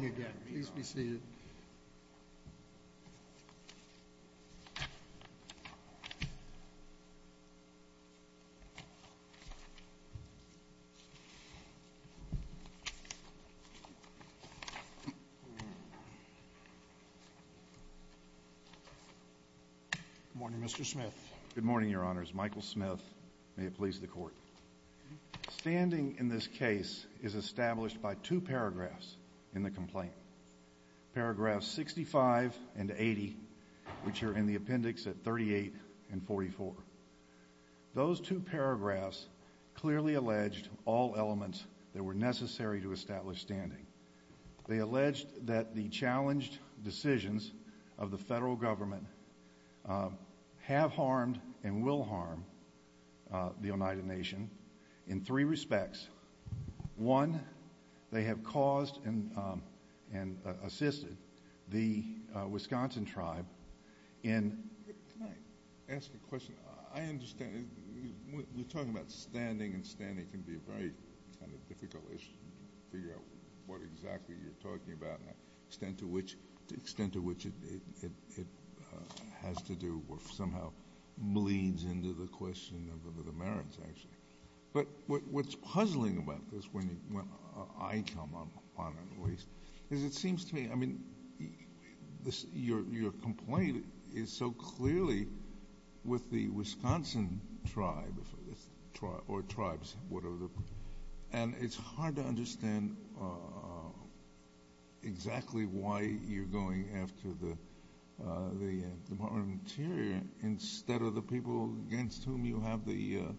States. Good morning, Mr. Smith. Good morning, Your Honors. Michael Smith. May it please the Court. Standing in this case is established by two paragraphs in the complaint, paragraphs 65 and 80, which are in the appendix at 38 and 44. Those two paragraphs clearly alleged all elements that were necessary to establish standing. They alleged that the challenged decisions of the federal government have harmed and in three respects, one, they have caused and assisted the Wisconsin tribe in... Can I ask a question? I understand... We're talking about standing and standing can be a very kind of difficult issue to figure out what exactly you're talking about and the extent to which it has to do or somehow bleeds into the question of the merits, actually. But what's puzzling about this when I come up on it, at least, is it seems to me, I mean, your complaint is so clearly with the Wisconsin tribe or tribes, whatever the... And it's hard to understand exactly why you're going after the Department of Interior instead of the people against whom you have the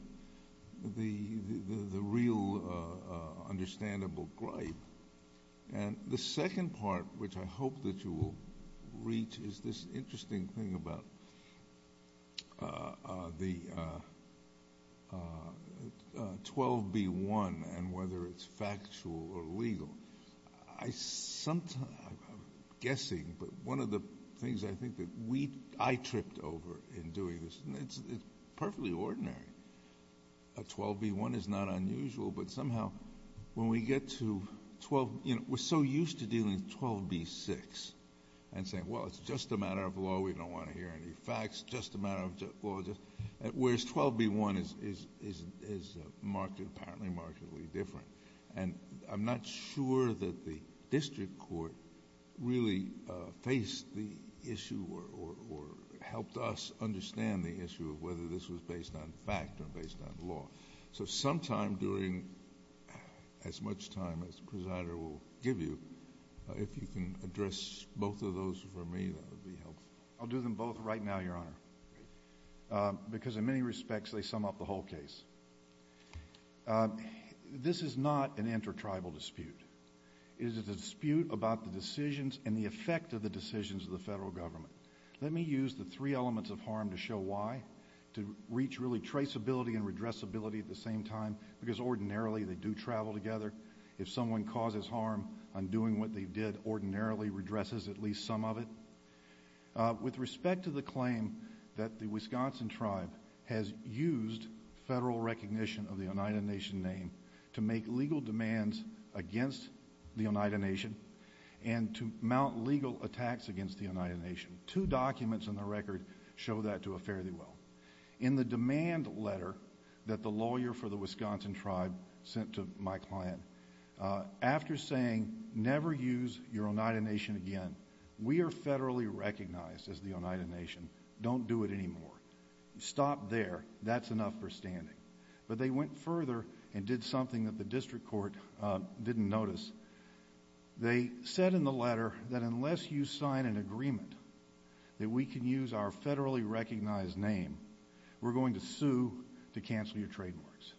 real understandable gripe. And the second part, which I hope that you will reach, is this interesting thing about the 12B1 and whether it's factual or legal. I'm guessing, but one of the things I think that I tripped over in doing this, and it's perfectly ordinary. A 12B1 is not unusual, but somehow when we get to 12... We're so used to dealing with 12B6 and saying, well, it's just a matter of law. We don't want to hear any facts, just a matter of law. Whereas 12B1 is apparently markedly different. And I'm not sure that the district court really faced the issue or helped us understand the issue of whether this was based on fact or based on law. So sometime during as much time as the presider will give you, if you can address both of those for me, that would be helpful. I'll do them both right now, Your Honor. Because in many respects, they sum up the whole case. This is not an inter-tribal dispute. It is a dispute about the decisions and the effect of the decisions of the federal government. Let me use the three elements of harm to show why, to reach really traceability and redressability at the same time, because ordinarily they do travel together. If someone causes harm on doing what they did, ordinarily redresses at least some of it. With respect to the claim that the Wisconsin tribe has used federal recognition of the Oneida Nation name to make legal demands against the Oneida Nation and to mount legal attacks against the Oneida Nation, two documents in the record show that to a fairly well. In the demand letter that the lawyer for the Wisconsin tribe sent to my client, after saying, never use your Oneida Nation again, we are federally recognized as the Oneida Nation. Don't do it anymore. Stop there. That's enough for standing. But they went further and did something that the district court didn't notice. They said in the letter that unless you sign an agreement that we can use our federally recognized name, we're going to sue to cancel your trademarks.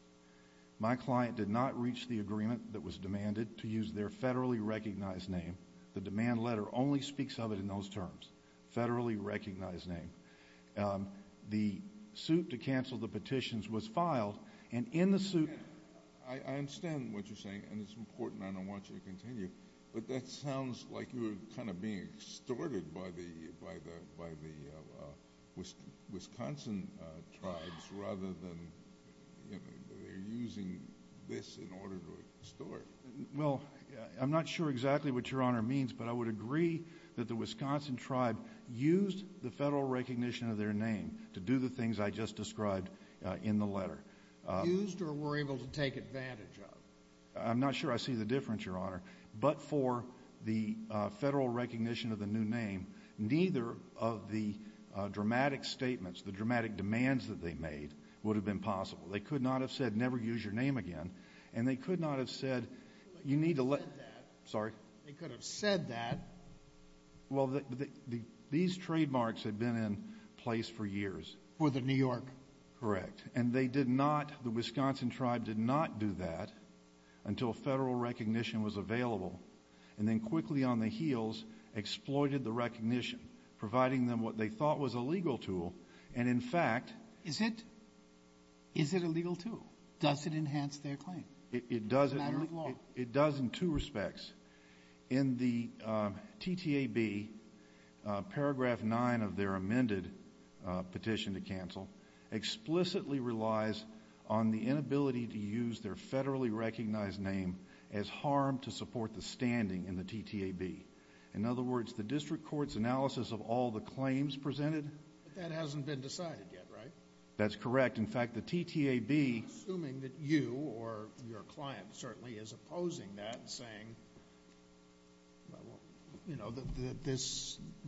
My client did not reach the agreement that was demanded to use their federally recognized name. The demand letter only speaks of it in those terms, federally recognized name. The suit to cancel the petitions was filed, and in the suit- I understand what you're saying, and it's important and I want you to continue, but that sounds like you're kind of being extorted by the Wisconsin tribes rather than they're using this in order to extort. Well, I'm not sure exactly what Your Honor means, but I would agree that the Wisconsin tribe used the federal recognition of their name to do the things I just described in the letter. Used or were able to take advantage of? I'm not sure I see the difference, Your Honor. But for the federal recognition of the new name, neither of the dramatic statements, the dramatic demands that they made, would have been possible. They could not have said, never use your name again, and they could not have said- They could have said that. Sorry? They could have said that. Well, these trademarks had been in place for years. For the New York. Correct. And they did not, the Wisconsin tribe did not do that until federal recognition was available and then quickly on the heels exploited the recognition, providing them what they thought was a legal tool, and in fact- Is it a legal tool? Does it enhance their claim? It doesn't. It does in two respects. In the TTAB, paragraph 9 of their amended petition to cancel, explicitly relies on the inability to use their federally recognized name as harm to support the standing in the TTAB. In other words, the district court's analysis of all the claims presented- That hasn't been decided yet, right? That's correct. In fact, the TTAB- Assuming that you or your client certainly is opposing that and saying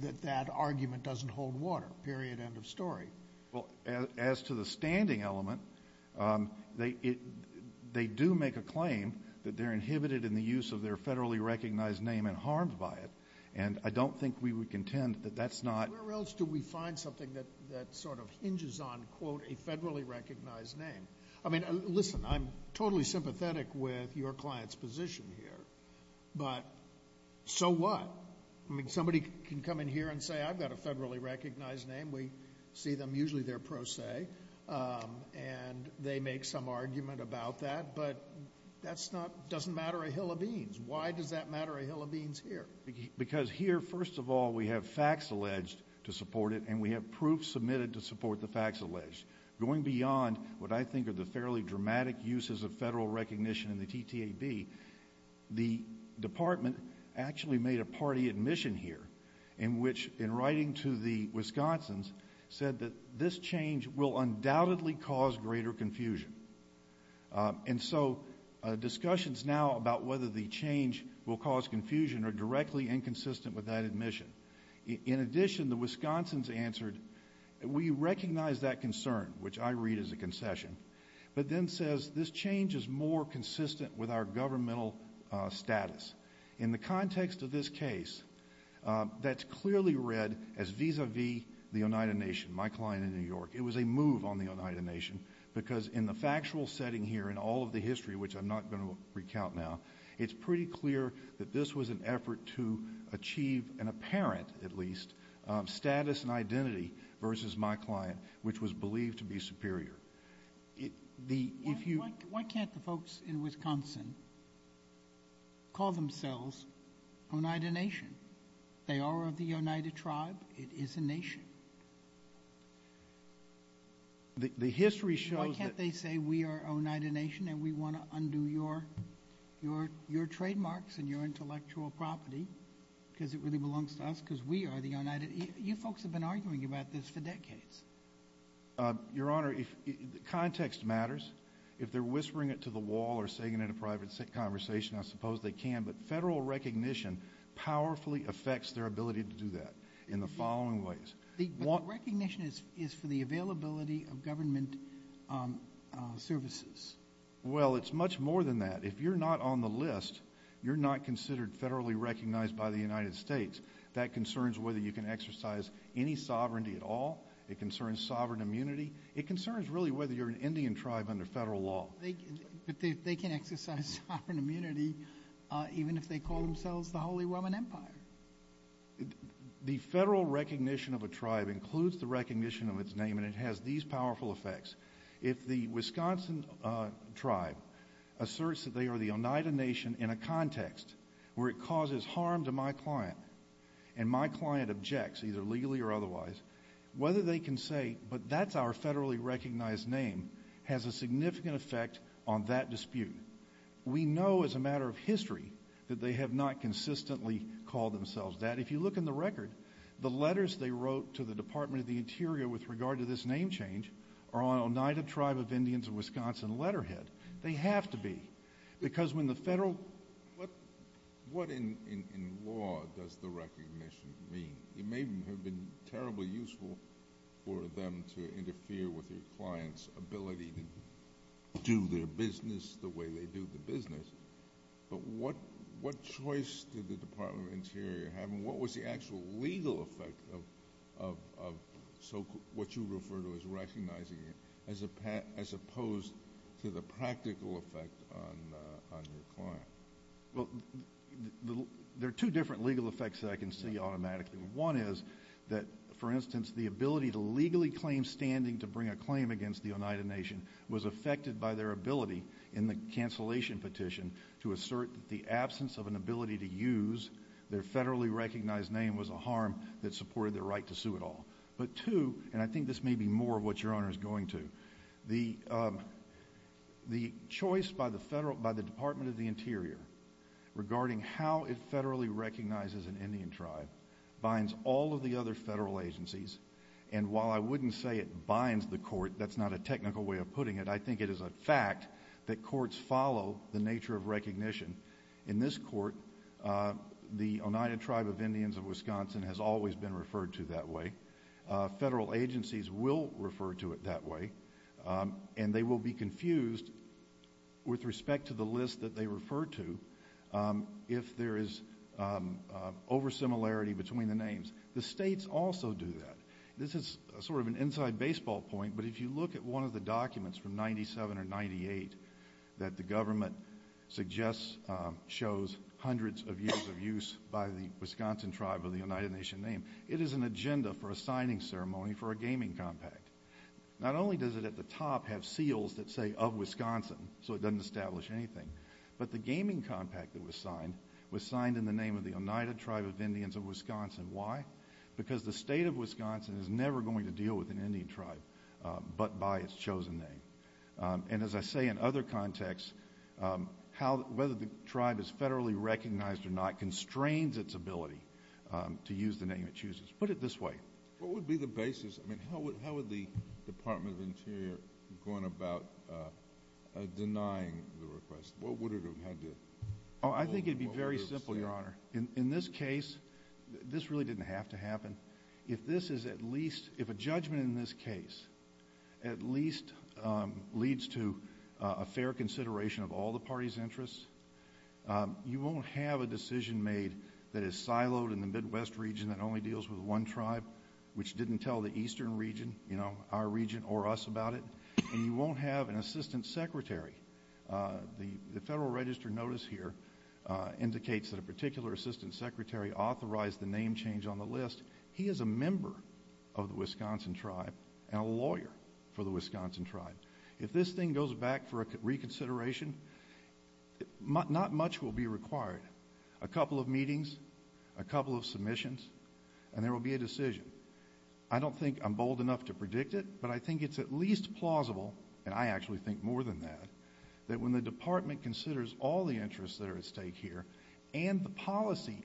that that argument doesn't hold water, period, end of story. Well, as to the standing element, they do make a claim that they're inhibited in the use of their federally recognized name and harmed by it, and I don't think we would contend that that's not- I mean, listen. I'm totally sympathetic with your client's position here, but so what? I mean, somebody can come in here and say, I've got a federally recognized name. We see them. Usually they're pro se, and they make some argument about that, but that doesn't matter a hill of beans. Why does that matter a hill of beans here? Because here, first of all, we have facts alleged to support it, and we have proof submitted to support the facts alleged. Going beyond what I think are the fairly dramatic uses of federal recognition in the TTAB, the department actually made a party admission here in which, in writing to the Wisconsin's, said that this change will undoubtedly cause greater confusion. And so discussions now about whether the change will cause confusion are directly inconsistent with that admission. In addition, the Wisconsin's answered, we recognize that concern, which I read as a concession, but then says this change is more consistent with our governmental status. In the context of this case, that's clearly read as vis-a-vis the Oneida Nation, my client in New York. It was a move on the Oneida Nation because in the factual setting here, in all of the history, which I'm not going to recount now, it's pretty clear that this was an effort to achieve an apparent, at least, status and identity versus my client, which was believed to be superior. Why can't the folks in Wisconsin call themselves Oneida Nation? They are of the Oneida tribe. It is a nation. The history shows that— Why can't they say we are Oneida Nation and we want to undo your trademarks and your intellectual property because it really belongs to us because we are the Oneida? You folks have been arguing about this for decades. Your Honor, context matters. If they're whispering it to the wall or saying it in a private conversation, I suppose they can, but federal recognition powerfully affects their ability to do that in the following ways. But the recognition is for the availability of government services. Well, it's much more than that. If you're not on the list, you're not considered federally recognized by the United States. That concerns whether you can exercise any sovereignty at all. It concerns sovereign immunity. It concerns really whether you're an Indian tribe under federal law. But they can exercise sovereign immunity even if they call themselves the Holy Roman Empire. The federal recognition of a tribe includes the recognition of its name, and it has these powerful effects. If the Wisconsin tribe asserts that they are the Oneida Nation in a context where it causes harm to my client and my client objects, either legally or otherwise, whether they can say, but that's our federally recognized name, has a significant effect on that dispute. We know as a matter of history that they have not consistently called themselves that. If you look in the record, the letters they wrote to the Department of the Interior with regard to this name change are on Oneida Tribe of Indians of Wisconsin letterhead. They have to be because when the federal— What in law does the recognition mean? It may have been terribly useful for them to interfere with your client's ability to do their business the way they do the business. But what choice did the Department of the Interior have, and what was the actual legal effect of what you refer to as recognizing it as opposed to the practical effect on your client? Well, there are two different legal effects that I can see automatically. One is that, for instance, the ability to legally claim standing to bring a claim against the Oneida Nation was affected by their ability in the cancellation petition to assert that the absence of an ability to use their federally recognized name was a harm that supported their right to sue at all. But two, and I think this may be more of what your honor is going to, the choice by the Department of the Interior regarding how it federally recognizes an Indian tribe binds all of the other federal agencies, and while I wouldn't say it binds the court, that's not a technical way of putting it, I think it is a fact that courts follow the nature of recognition. In this court, the Oneida Tribe of Indians of Wisconsin has always been referred to that way. Federal agencies will refer to it that way, and they will be confused with respect to the list that they refer to if there is oversimilarity between the names. The states also do that. This is sort of an inside baseball point, but if you look at one of the documents from 1997 or 1998 that the government suggests shows hundreds of years of use by the Wisconsin tribe of the Oneida Nation name, it is an agenda for a signing ceremony for a gaming compact. Not only does it at the top have seals that say, Of Wisconsin, so it doesn't establish anything, but the gaming compact that was signed was signed in the name of the Oneida Tribe of Indians of Wisconsin. Why? Because the state of Wisconsin is never going to deal with an Indian tribe but by its chosen name. And as I say in other contexts, whether the tribe is federally recognized or not constrains its ability to use the name it chooses. Put it this way. What would be the basis? I mean, how would the Department of the Interior go about denying the request? What would it have had to— I think it would be very simple, Your Honor. In this case, this really didn't have to happen. If a judgment in this case at least leads to a fair consideration of all the party's interests, you won't have a decision made that is siloed in the Midwest region that only deals with one tribe, which didn't tell the eastern region, our region or us about it, and you won't have an assistant secretary. The Federal Register notice here indicates that a particular assistant secretary authorized the name change on the list. He is a member of the Wisconsin tribe and a lawyer for the Wisconsin tribe. If this thing goes back for a reconsideration, not much will be required. A couple of meetings, a couple of submissions, and there will be a decision. I don't think I'm bold enough to predict it, but I think it's at least plausible, and I actually think more than that, that when the Department considers all the interests that are at stake here and the policy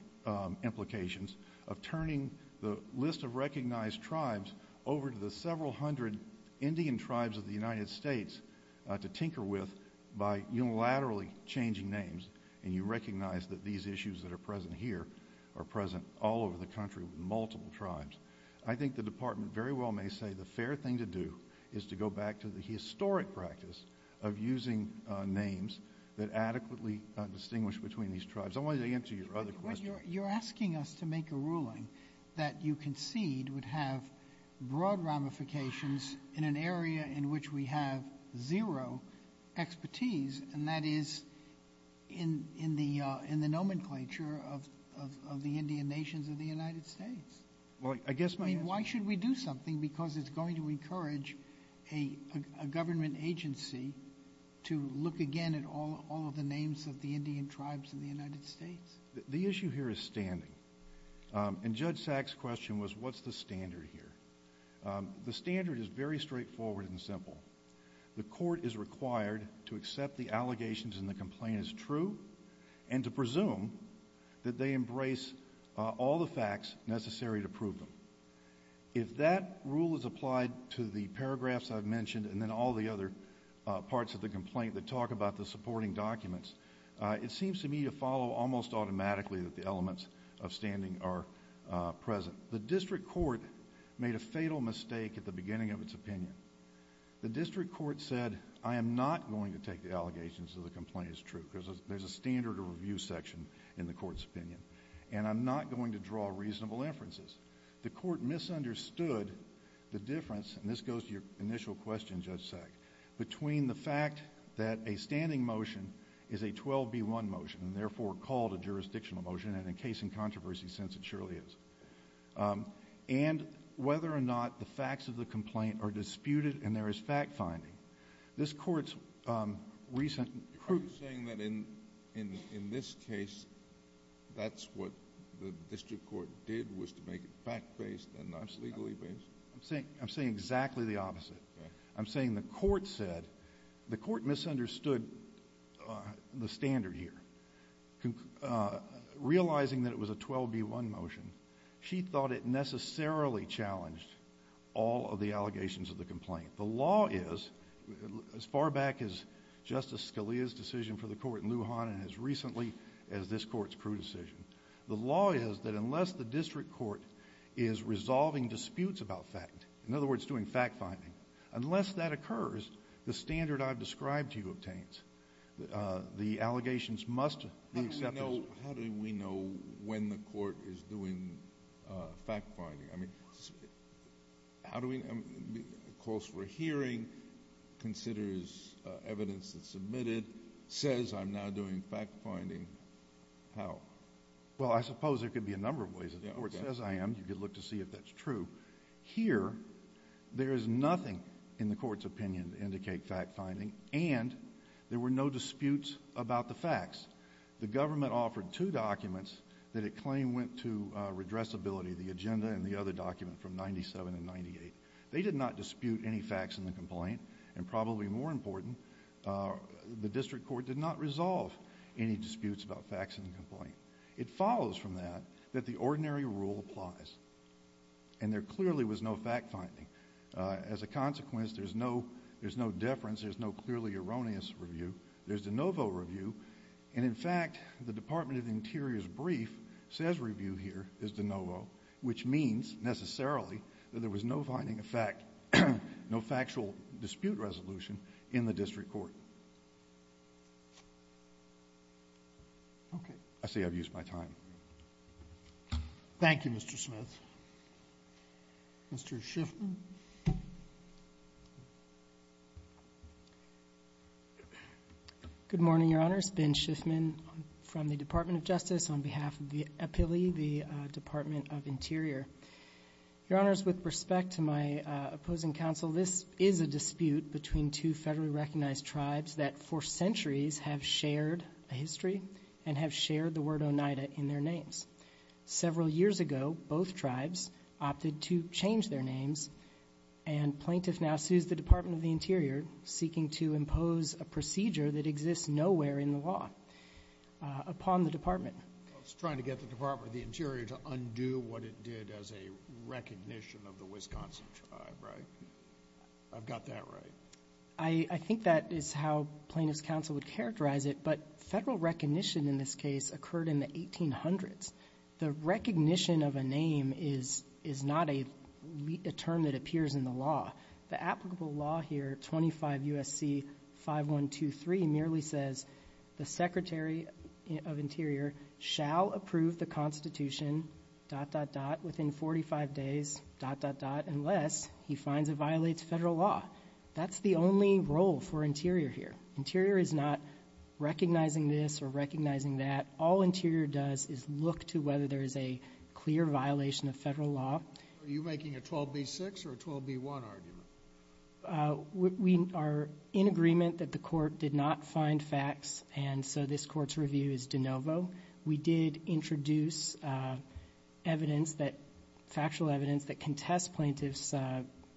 implications of turning the list of recognized tribes over to the several hundred Indian tribes of the United States to tinker with by unilaterally changing names, and you recognize that these issues that are present here are present all over the country with multiple tribes, I think the Department very well may say the fair thing to do is to go back to the historic practice of using names that adequately distinguish between these tribes. I wanted to answer your other question. You're asking us to make a ruling that you concede would have broad ramifications in an area in which we have zero expertise, and that is in the nomenclature of the Indian nations of the United States. Why should we do something because it's going to encourage a government agency to look again at all of the names of the Indian tribes of the United States? The issue here is standing, and Judge Sack's question was what's the standard here. The standard is very straightforward and simple. The court is required to accept the allegations and the complaint as true and to presume that they embrace all the facts necessary to prove them. If that rule is applied to the paragraphs I've mentioned and then all the other parts of the complaint that talk about the supporting documents, it seems to me to follow almost automatically that the elements of standing are present. The district court made a fatal mistake at the beginning of its opinion. The district court said, I am not going to take the allegations of the complaint as true because there's a standard review section in the court's opinion, and I'm not going to draw reasonable inferences. The court misunderstood the difference, and this goes to your initial question, Judge Sack, between the fact that a standing motion is a 12B1 motion and therefore called a jurisdictional motion, and in case and controversy sense it surely is, and whether or not the facts of the complaint are disputed and there is fact-finding. This court's recent... Are you saying that in this case that's what the district court did was to make it fact-based and not legally based? I'm saying exactly the opposite. I'm saying the court said, the court misunderstood the standard here. Realizing that it was a 12B1 motion, she thought it necessarily challenged all of the allegations of the complaint. The law is, as far back as Justice Scalia's decision for the court in Lujan and as recently as this court's crude decision, the law is that unless the district court is resolving disputes about fact, in other words, doing fact-finding, unless that occurs, the standard I've described to you obtains. The allegations must be accepted. How do we know when the court is doing fact-finding? I mean, how do we know? It calls for a hearing, considers evidence that's submitted, says I'm now doing fact-finding. How? Well, I suppose there could be a number of ways. If the court says I am, you could look to see if that's true. Here, there is nothing in the court's opinion to indicate fact-finding, and there were no disputes about the facts. The government offered two documents that it claimed went to redressability, the agenda and the other document from 1997 and 1998. They did not dispute any facts in the complaint, and probably more important, the district court did not resolve any disputes about facts in the complaint. It follows from that that the ordinary rule applies, and there clearly was no fact-finding. As a consequence, there's no deference. There's no clearly erroneous review. There's de novo review, and in fact, the Department of the Interior's brief says review here is de novo, which means necessarily that there was no finding of fact, no factual dispute resolution in the district court. Okay. I say I've used my time. Thank you, Mr. Smith. Mr. Shifton. Good morning, Your Honors. Ben Shiftman from the Department of Justice on behalf of the APILI, the Department of Interior. Your Honors, with respect to my opposing counsel, this is a dispute between two federally recognized tribes that for centuries have shared a history and have shared the word Oneida in their names. Several years ago, both tribes opted to change their names, and plaintiff now sues the Department of the Interior, seeking to impose a procedure that exists nowhere in the law upon the department. Well, it's trying to get the Department of the Interior to undo what it did as a recognition of the Wisconsin tribe, right? I've got that right. I think that is how plaintiff's counsel would characterize it, but federal recognition in this case occurred in the 1800s. The recognition of a name is not a term that appears in the law. The applicable law here, 25 U.S.C. 5123, merely says the Secretary of Interior shall approve the Constitution, dot, dot, dot, within 45 days, dot, dot, dot, unless he finds it violates federal law. That's the only role for Interior here. Interior is not recognizing this or recognizing that. All Interior does is look to whether there is a clear violation of federal law. Are you making a 12b-6 or a 12b-1 argument? We are in agreement that the court did not find facts, and so this court's review is de novo. We did introduce evidence, factual evidence, that can test plaintiff's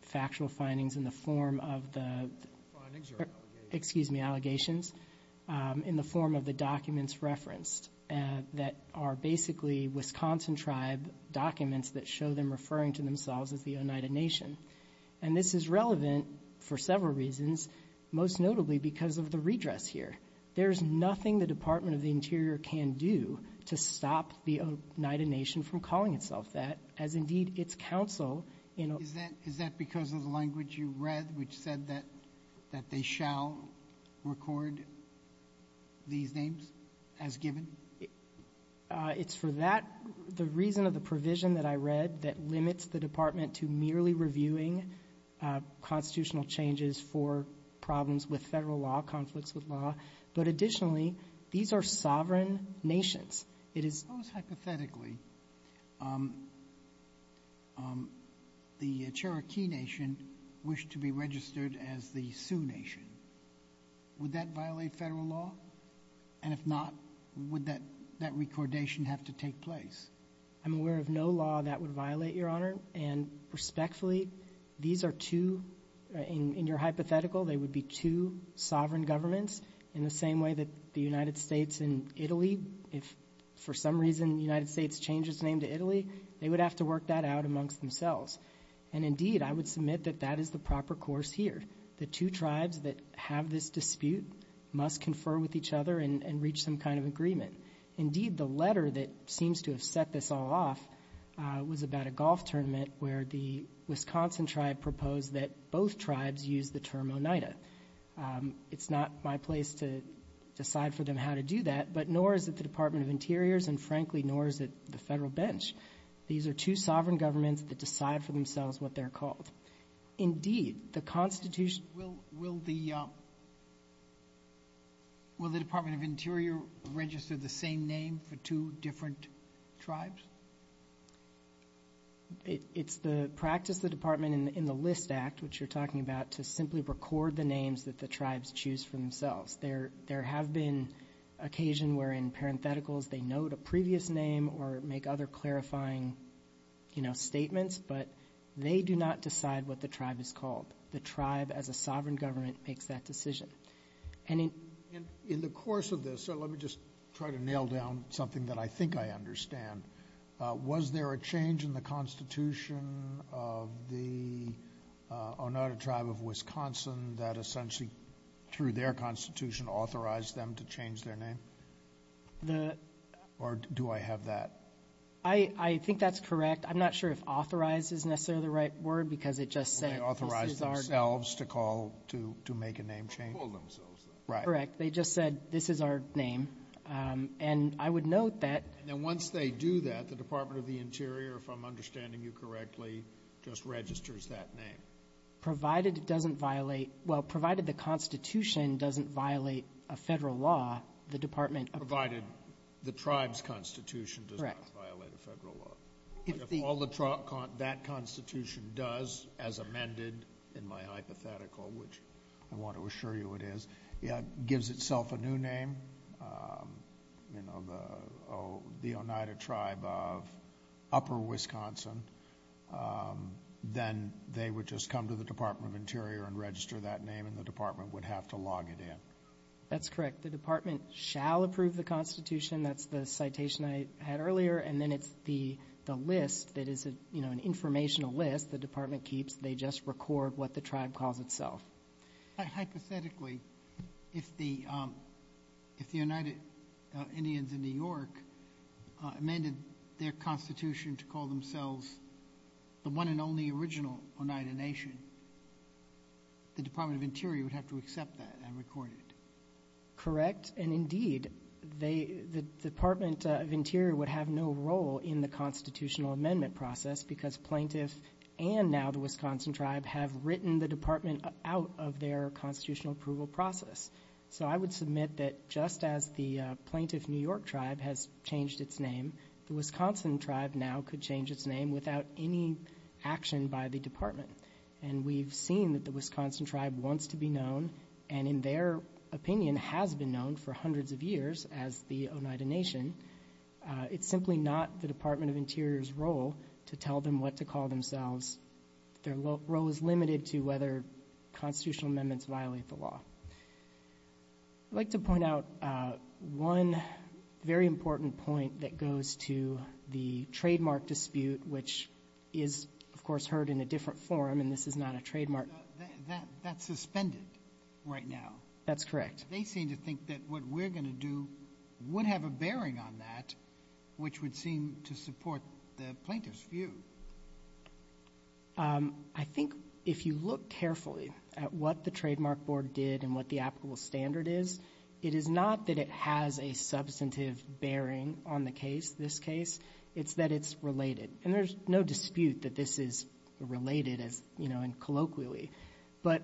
factual findings in the form of the allegations in the form of the documents referenced that are basically Wisconsin tribe documents that show them referring to themselves as the Oneida Nation. And this is relevant for several reasons, most notably because of the redress here. There is nothing the Department of the Interior can do to stop the Oneida Nation from calling itself that, as indeed its counsel. Is that because of the language you read which said that they shall record these names as given? It's for that, the reason of the provision that I read that limits the Department to merely reviewing constitutional changes for problems with federal law, conflicts with law. But additionally, these are sovereign nations. Suppose hypothetically the Cherokee Nation wished to be registered as the Sioux Nation. Would that violate federal law? And if not, would that recordation have to take place? I'm aware of no law that would violate, Your Honor. And respectfully, these are two, in your hypothetical, they would be two sovereign governments in the same way that the United States and Italy, if for some reason the United States changes its name to Italy, they would have to work that out amongst themselves. And indeed, I would submit that that is the proper course here. The two tribes that have this dispute must confer with each other and reach some kind of agreement. Indeed, the letter that seems to have set this all off was about a golf tournament where the Wisconsin tribe proposed that both tribes use the term Oneida. It's not my place to decide for them how to do that, but nor is it the Department of Interior's, and frankly, nor is it the federal bench. These are two sovereign governments that decide for themselves what they're called. Indeed, the Constitution... Will the Department of Interior register the same name for two different tribes? It's the practice of the Department in the List Act, which you're talking about, to simply record the names that the tribes choose for themselves. There have been occasion where in parentheticals they note a previous name or make other clarifying statements, but they do not decide what the tribe is called. The tribe as a sovereign government makes that decision. In the course of this, let me just try to nail down something that I think I understand. Was there a change in the Constitution of the Oneida tribe of Wisconsin that essentially through their Constitution authorized them to change their name? Or do I have that? I think that's correct. I'm not sure if authorized is necessarily the right word because it just said, this is our name. Did they authorize themselves to call to make a name change? They called themselves that. Correct. They just said, this is our name. And I would note that... And then once they do that, the Department of the Interior, if I'm understanding you correctly, just registers that name. Provided it doesn't violate, well, provided the Constitution doesn't violate a federal law, the Department of the Interior... Provided the tribe's Constitution does not violate a federal law. If all that Constitution does as amended in my hypothetical, which I want to assure you it is, gives itself a new name, you know, the Oneida tribe of Upper Wisconsin, then they would just come to the Department of Interior and register that name and the department would have to log it in. That's correct. The department shall approve the Constitution. That's the citation I had earlier. And then it's the list that is, you know, an informational list the department keeps. They just record what the tribe calls itself. Hypothetically, if the Oneida Indians in New York amended their Constitution to call themselves the one and only original Oneida Nation, the Department of Interior would have to accept that and record it. Correct. And, indeed, the Department of Interior would have no role in the constitutional amendment process because plaintiff and now the Wisconsin tribe have written the department out of their constitutional approval process. So I would submit that just as the plaintiff New York tribe has changed its name, the Wisconsin tribe now could change its name without any action by the department. And we've seen that the Wisconsin tribe wants to be known and, in their opinion, has been known for hundreds of years as the Oneida Nation. It's simply not the Department of Interior's role to tell them what to call themselves. Their role is limited to whether constitutional amendments violate the law. I'd like to point out one very important point that goes to the trademark dispute, which is, of course, heard in a different forum, and this is not a trademark. That's suspended right now. That's correct. They seem to think that what we're going to do would have a bearing on that, which would seem to support the plaintiff's view. I think if you look carefully at what the trademark board did and what the applicable standard is, it is not that it has a substantive bearing on the case, this case. It's that it's related. And there's no dispute that this is related and colloquially. But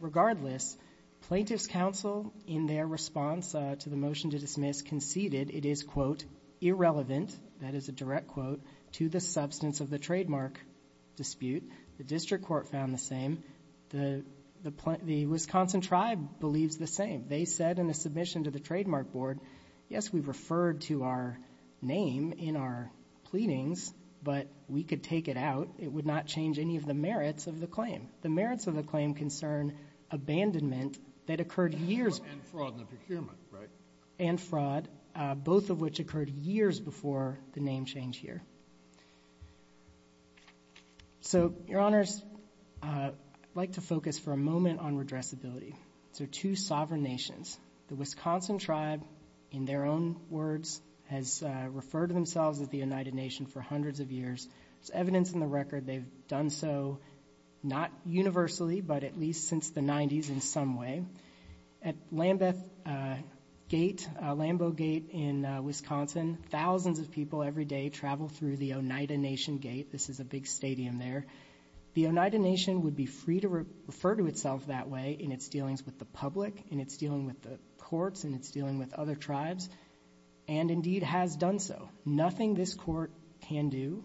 regardless, plaintiff's counsel, in their response to the motion to dismiss, conceded it is, quote, irrelevant, that is a direct quote, to the substance of the trademark dispute. The district court found the same. The Wisconsin tribe believes the same. They said in a submission to the trademark board, yes, we've referred to our name in our pleadings, but we could take it out. It would not change any of the merits of the claim. The merits of the claim concern abandonment that occurred years ago. And fraud in the procurement, right? And fraud, both of which occurred years before the name change here. So, Your Honors, I'd like to focus for a moment on redressability. These are two sovereign nations. The Wisconsin tribe, in their own words, has referred to themselves as the United Nation for hundreds of years. There's evidence in the record they've done so, not universally, but at least since the 90s in some way. At Lambeth Gate, Lambeau Gate in Wisconsin, thousands of people every day travel through the Oneida Nation Gate. This is a big stadium there. The Oneida Nation would be free to refer to itself that way in its dealings with the public, in its dealing with the courts, in its dealing with other tribes, and indeed has done so. Nothing this court can do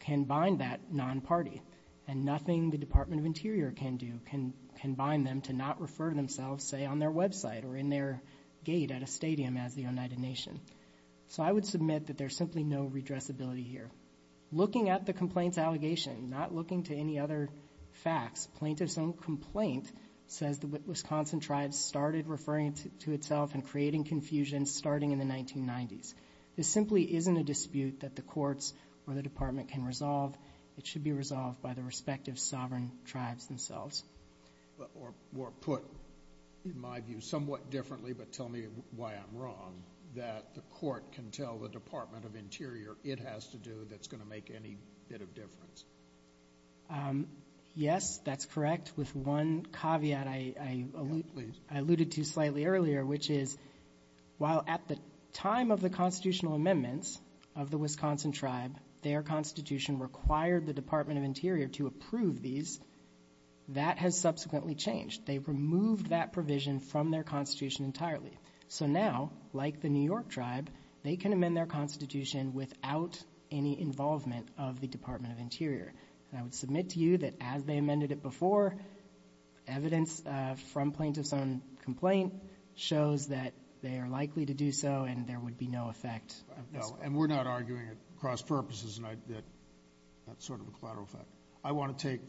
can bind that non-party, and nothing the Department of Interior can do can bind them to not refer to themselves, say, on their website or in their gate at a stadium as the Oneida Nation. So I would submit that there's simply no redressability here. Looking at the complaint's allegation, not looking to any other facts, plaintiff's own complaint, says the Wisconsin tribe started referring to itself and creating confusion starting in the 1990s. This simply isn't a dispute that the courts or the Department can resolve. It should be resolved by the respective sovereign tribes themselves. Or put, in my view, somewhat differently, but tell me why I'm wrong, that the court can tell the Department of Interior it has to do that's going to make any bit of difference. Yes, that's correct, with one caveat I alluded to slightly earlier, which is while at the time of the constitutional amendments of the Wisconsin tribe, their constitution required the Department of Interior to approve these, that has subsequently changed. They removed that provision from their constitution entirely. So now, like the New York tribe, they can amend their constitution without any involvement of the Department of Interior. And I would submit to you that as they amended it before, evidence from plaintiff's own complaint shows that they are likely to do so and there would be no effect. No, and we're not arguing at cross purposes that that's sort of a collateral effect. I want to take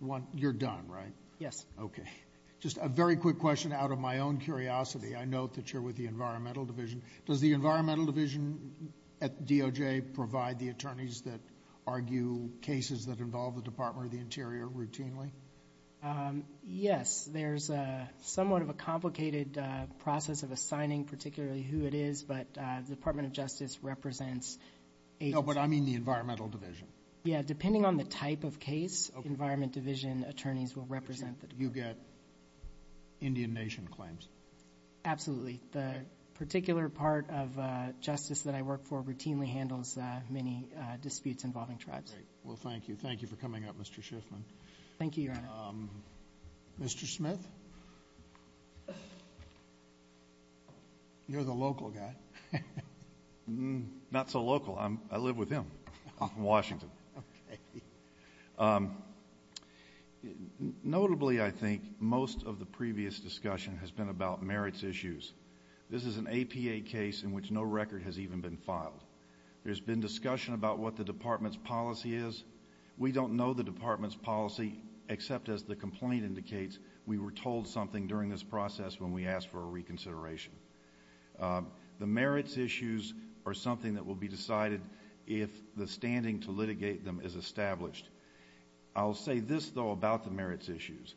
one. You're done, right? Yes. Okay. Just a very quick question out of my own curiosity. I note that you're with the Environmental Division. Does the Environmental Division at DOJ provide the attorneys that argue cases that involve the Department of the Interior routinely? Yes. There's somewhat of a complicated process of assigning particularly who it is, but the Department of Justice represents agents. No, but I mean the Environmental Division. Yeah, depending on the type of case, Environment Division attorneys will represent the Department. You get Indian nation claims. Absolutely. The particular part of justice that I work for routinely handles many disputes involving tribes. Great. Well, thank you. Thank you for coming up, Mr. Schiffman. Thank you, Your Honor. Mr. Smith? You're the local guy. Not so local. I live with him in Washington. Okay. Notably, I think, most of the previous discussion has been about merits issues. This is an APA case in which no record has even been filed. There's been discussion about what the department's policy is. We don't know the department's policy, except as the complaint indicates, we were told something during this process when we asked for a reconsideration. The merits issues are something that will be decided if the standing to litigate them is established. I'll say this, though, about the merits issues.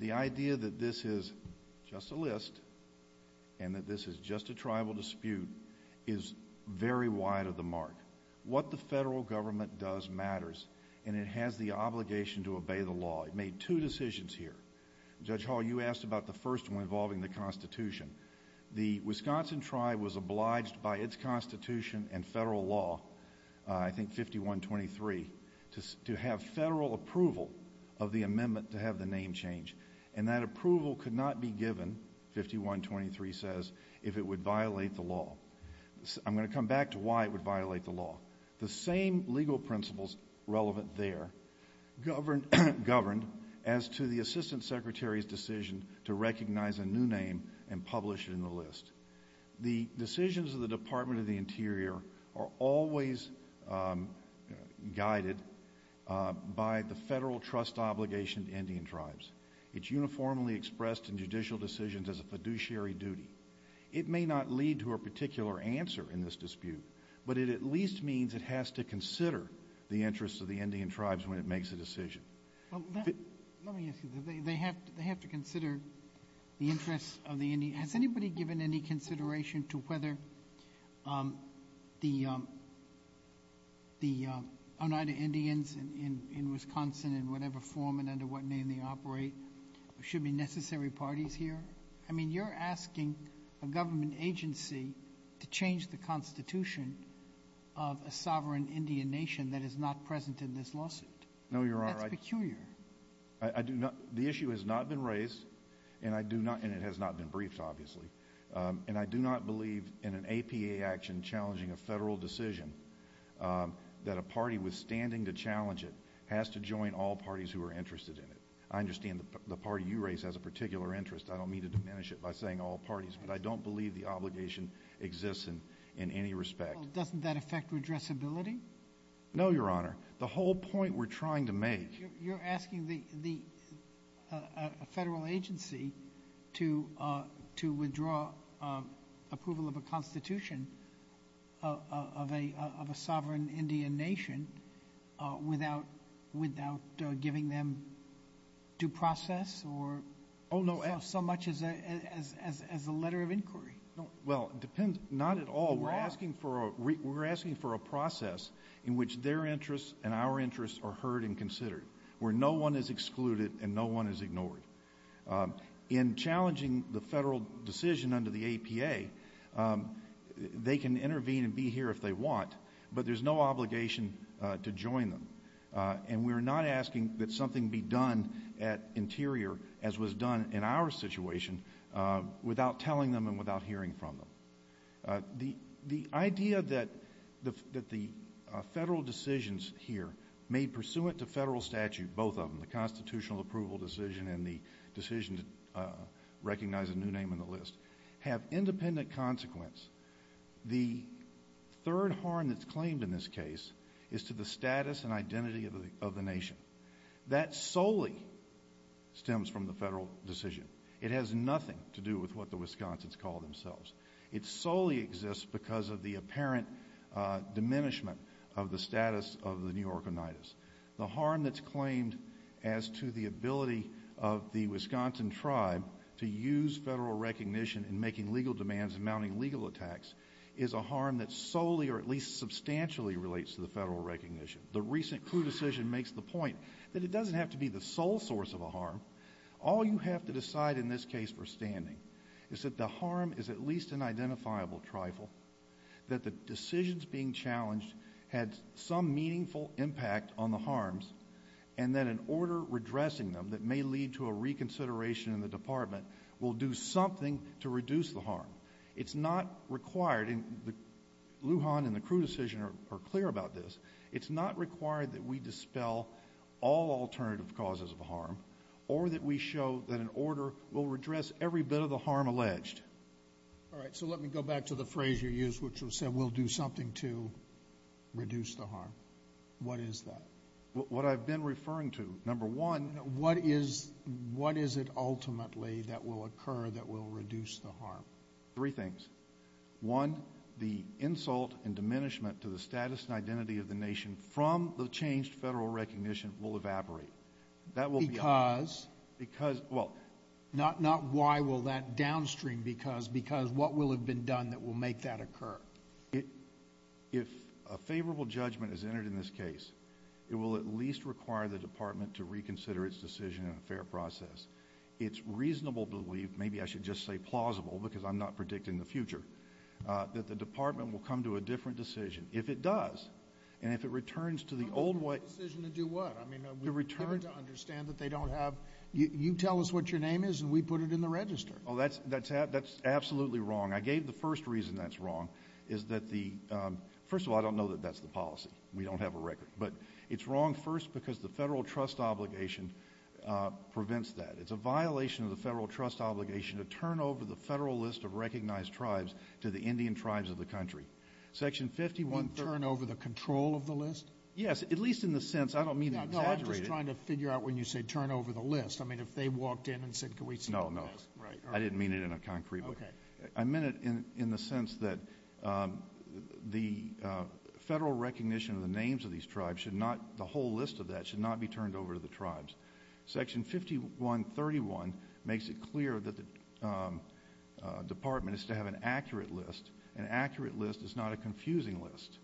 The idea that this is just a list and that this is just a tribal dispute is very wide of the mark. What the federal government does matters, and it has the obligation to obey the law. It made two decisions here. Judge Hall, you asked about the first one involving the Constitution. The Wisconsin tribe was obliged by its Constitution and federal law, I think 5123, to have federal approval of the amendment to have the name changed, and that approval could not be given, 5123 says, if it would violate the law. I'm going to come back to why it would violate the law. The same legal principles relevant there governed as to the assistant secretary's decision to recognize a new name and publish it in the list. The decisions of the Department of the Interior are always guided by the federal trust obligation to Indian tribes. It's uniformly expressed in judicial decisions as a fiduciary duty. It may not lead to a particular answer in this dispute, but it at least means it has to consider the interests of the Indian tribes when it makes a decision. Let me ask you this. They have to consider the interests of the Indians. Has anybody given any consideration to whether the Oneida Indians in Wisconsin, in whatever form and under what name they operate, should be necessary parties here? I mean, you're asking a government agency to change the Constitution of a sovereign Indian nation that is not present in this lawsuit. No, Your Honor. That's peculiar. The issue has not been raised, and it has not been briefed, obviously, and I do not believe in an APA action challenging a federal decision that a party withstanding to challenge it has to join all parties who are interested in it. I understand the party you raise has a particular interest. I don't mean to diminish it by saying all parties, but I don't believe the obligation exists in any respect. Doesn't that affect redressability? No, Your Honor. The whole point we're trying to make. You're asking a federal agency to withdraw approval of a Constitution of a sovereign Indian nation without giving them due process or so much as a letter of inquiry. Well, not at all. We're asking for a process in which their interests and our interests are heard and considered, where no one is excluded and no one is ignored. In challenging the federal decision under the APA, they can intervene and be here if they want, but there's no obligation to join them, and we're not asking that something be done at Interior as was done in our situation without telling them and without hearing from them. The idea that the federal decisions here, made pursuant to federal statute, both of them, the constitutional approval decision and the decision to recognize a new name on the list, have independent consequence. The third harm that's claimed in this case is to the status and identity of the nation. That solely stems from the federal decision. It has nothing to do with what the Wisconsins call themselves. It solely exists because of the apparent diminishment of the status of the New York Unitas. The harm that's claimed as to the ability of the Wisconsin tribe to use federal recognition in making legal demands and mounting legal attacks is a harm that solely or at least substantially relates to the federal recognition. The recent crew decision makes the point that it doesn't have to be the sole source of a harm. All you have to decide in this case for standing is that the harm is at least an identifiable trifle, that the decisions being challenged had some meaningful impact on the harms, and that an order redressing them that may lead to a reconsideration in the department will do something to reduce the harm. It's not required, and Lujan and the crew decision are clear about this, it's not required that we dispel all alternative causes of harm or that we show that an order will redress every bit of the harm alleged. All right, so let me go back to the phrase you used, which was said, we'll do something to reduce the harm. What is that? What I've been referring to, number one. What is it ultimately that will occur that will reduce the harm? Three things. One, the insult and diminishment to the status and identity of the nation from the changed federal recognition will evaporate. Because? Because, well. Not why will that downstream because, because what will have been done that will make that occur? If a favorable judgment is entered in this case, it will at least require the department to reconsider its decision in a fair process. It's reasonable to believe, maybe I should just say plausible because I'm not predicting the future, that the department will come to a different decision. If it does, and if it returns to the old way. A decision to do what? To return. To understand that they don't have, you tell us what your name is and we put it in the register. Oh, that's absolutely wrong. I gave the first reason that's wrong is that the, first of all, I don't know that that's the policy. We don't have a record. But it's wrong first because the federal trust obligation prevents that. It's a violation of the federal trust obligation to turn over the federal list of recognized tribes to the Indian tribes of the country. Section 51. You mean turn over the control of the list? Yes, at least in the sense, I don't mean to exaggerate it. No, I'm just trying to figure out when you say turn over the list. I mean if they walked in and said can we see the list. No, no. I didn't mean it in a concrete way. Okay. I meant it in the sense that the federal recognition of the names of these tribes should not, the whole list of that should not be turned over to the tribes. Section 5131 makes it clear that the department is to have an accurate list. An accurate list is not a confusing list.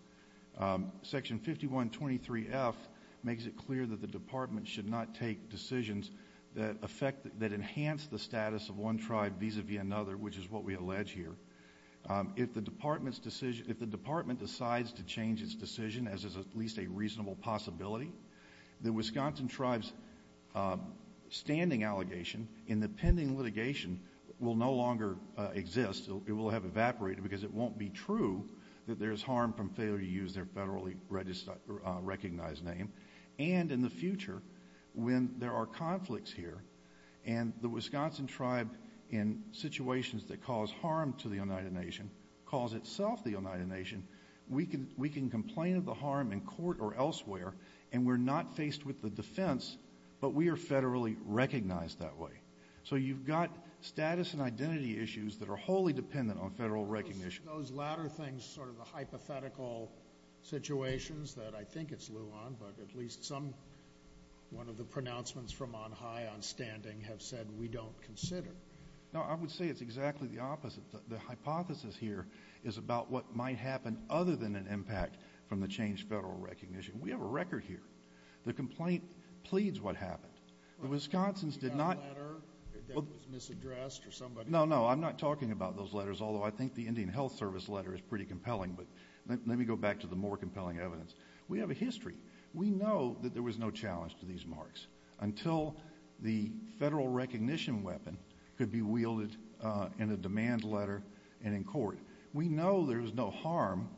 Section 5123F makes it clear that the department should not take decisions that affect, that enhance the status of one tribe vis-à-vis another, which is what we allege here. If the department decides to change its decision, as is at least a reasonable possibility, the Wisconsin tribes' standing allegation in the pending litigation will no longer exist. It will have evaporated because it won't be true that there is harm from failure to use their federally recognized name. And in the future, when there are conflicts here, and the Wisconsin tribe in situations that cause harm to the United Nation calls itself the United Nation, we can complain of the harm in court or elsewhere, and we're not faced with the defense, but we are federally recognized that way. So you've got status and identity issues that are wholly dependent on federal recognition. Those latter things, sort of the hypothetical situations that I think it's lieu on, but at least some, one of the pronouncements from on high, on standing, have said we don't consider. No, I would say it's exactly the opposite. The hypothesis here is about what might happen other than an impact from the changed federal recognition. We have a record here. The complaint pleads what happened. The Wisconsins did not. A letter that was misaddressed or somebody. No, no. I'm not talking about those letters, although I think the Indian Health Service letter is pretty compelling, but let me go back to the more compelling evidence. We have a history. We know that there was no challenge to these marks until the federal recognition weapon could be wielded in a demand letter and in court. We know there was no harm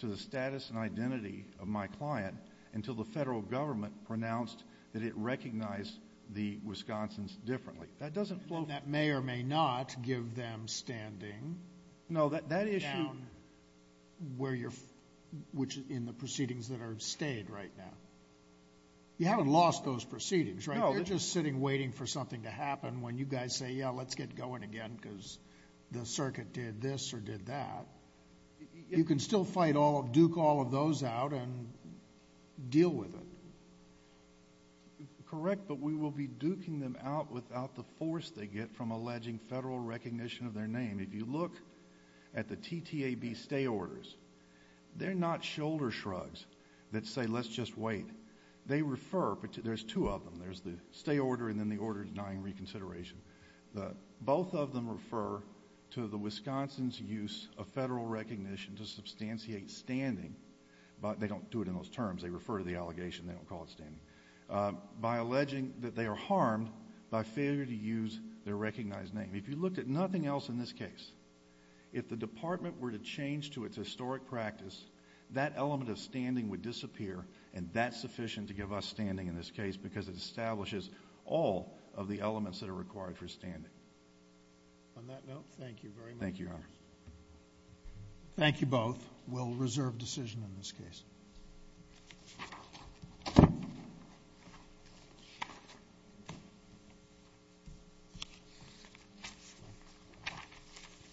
to the status and identity of my client until the federal government pronounced that it recognized the Wisconsins differently. That doesn't flow. That may or may not give them standing. No, that issue. Down where you're, which in the proceedings that are stayed right now. You haven't lost those proceedings, right? No. They're just sitting waiting for something to happen when you guys say, yeah, let's get going again because the circuit did this or did that. You can still fight all, duke all of those out and deal with it. Correct, but we will be duking them out without the force they get from alleging federal recognition of their name. If you look at the TTAB stay orders, they're not shoulder shrugs that say let's just wait. They refer, there's two of them. There's the stay order and then the order denying reconsideration. Both of them refer to the Wisconsin's use of federal recognition to substantiate standing, but they don't do it in those terms. They refer to the allegation. They don't call it standing. By alleging that they are harmed by failure to use their recognized name. If you looked at nothing else in this case, if the department were to change to its historic practice, that element of standing would disappear and that's sufficient to give us standing in this case because it establishes all of the elements that are required for standing. On that note, thank you very much. Thank you, Your Honor. Thank you both. We'll reserve decision in this case.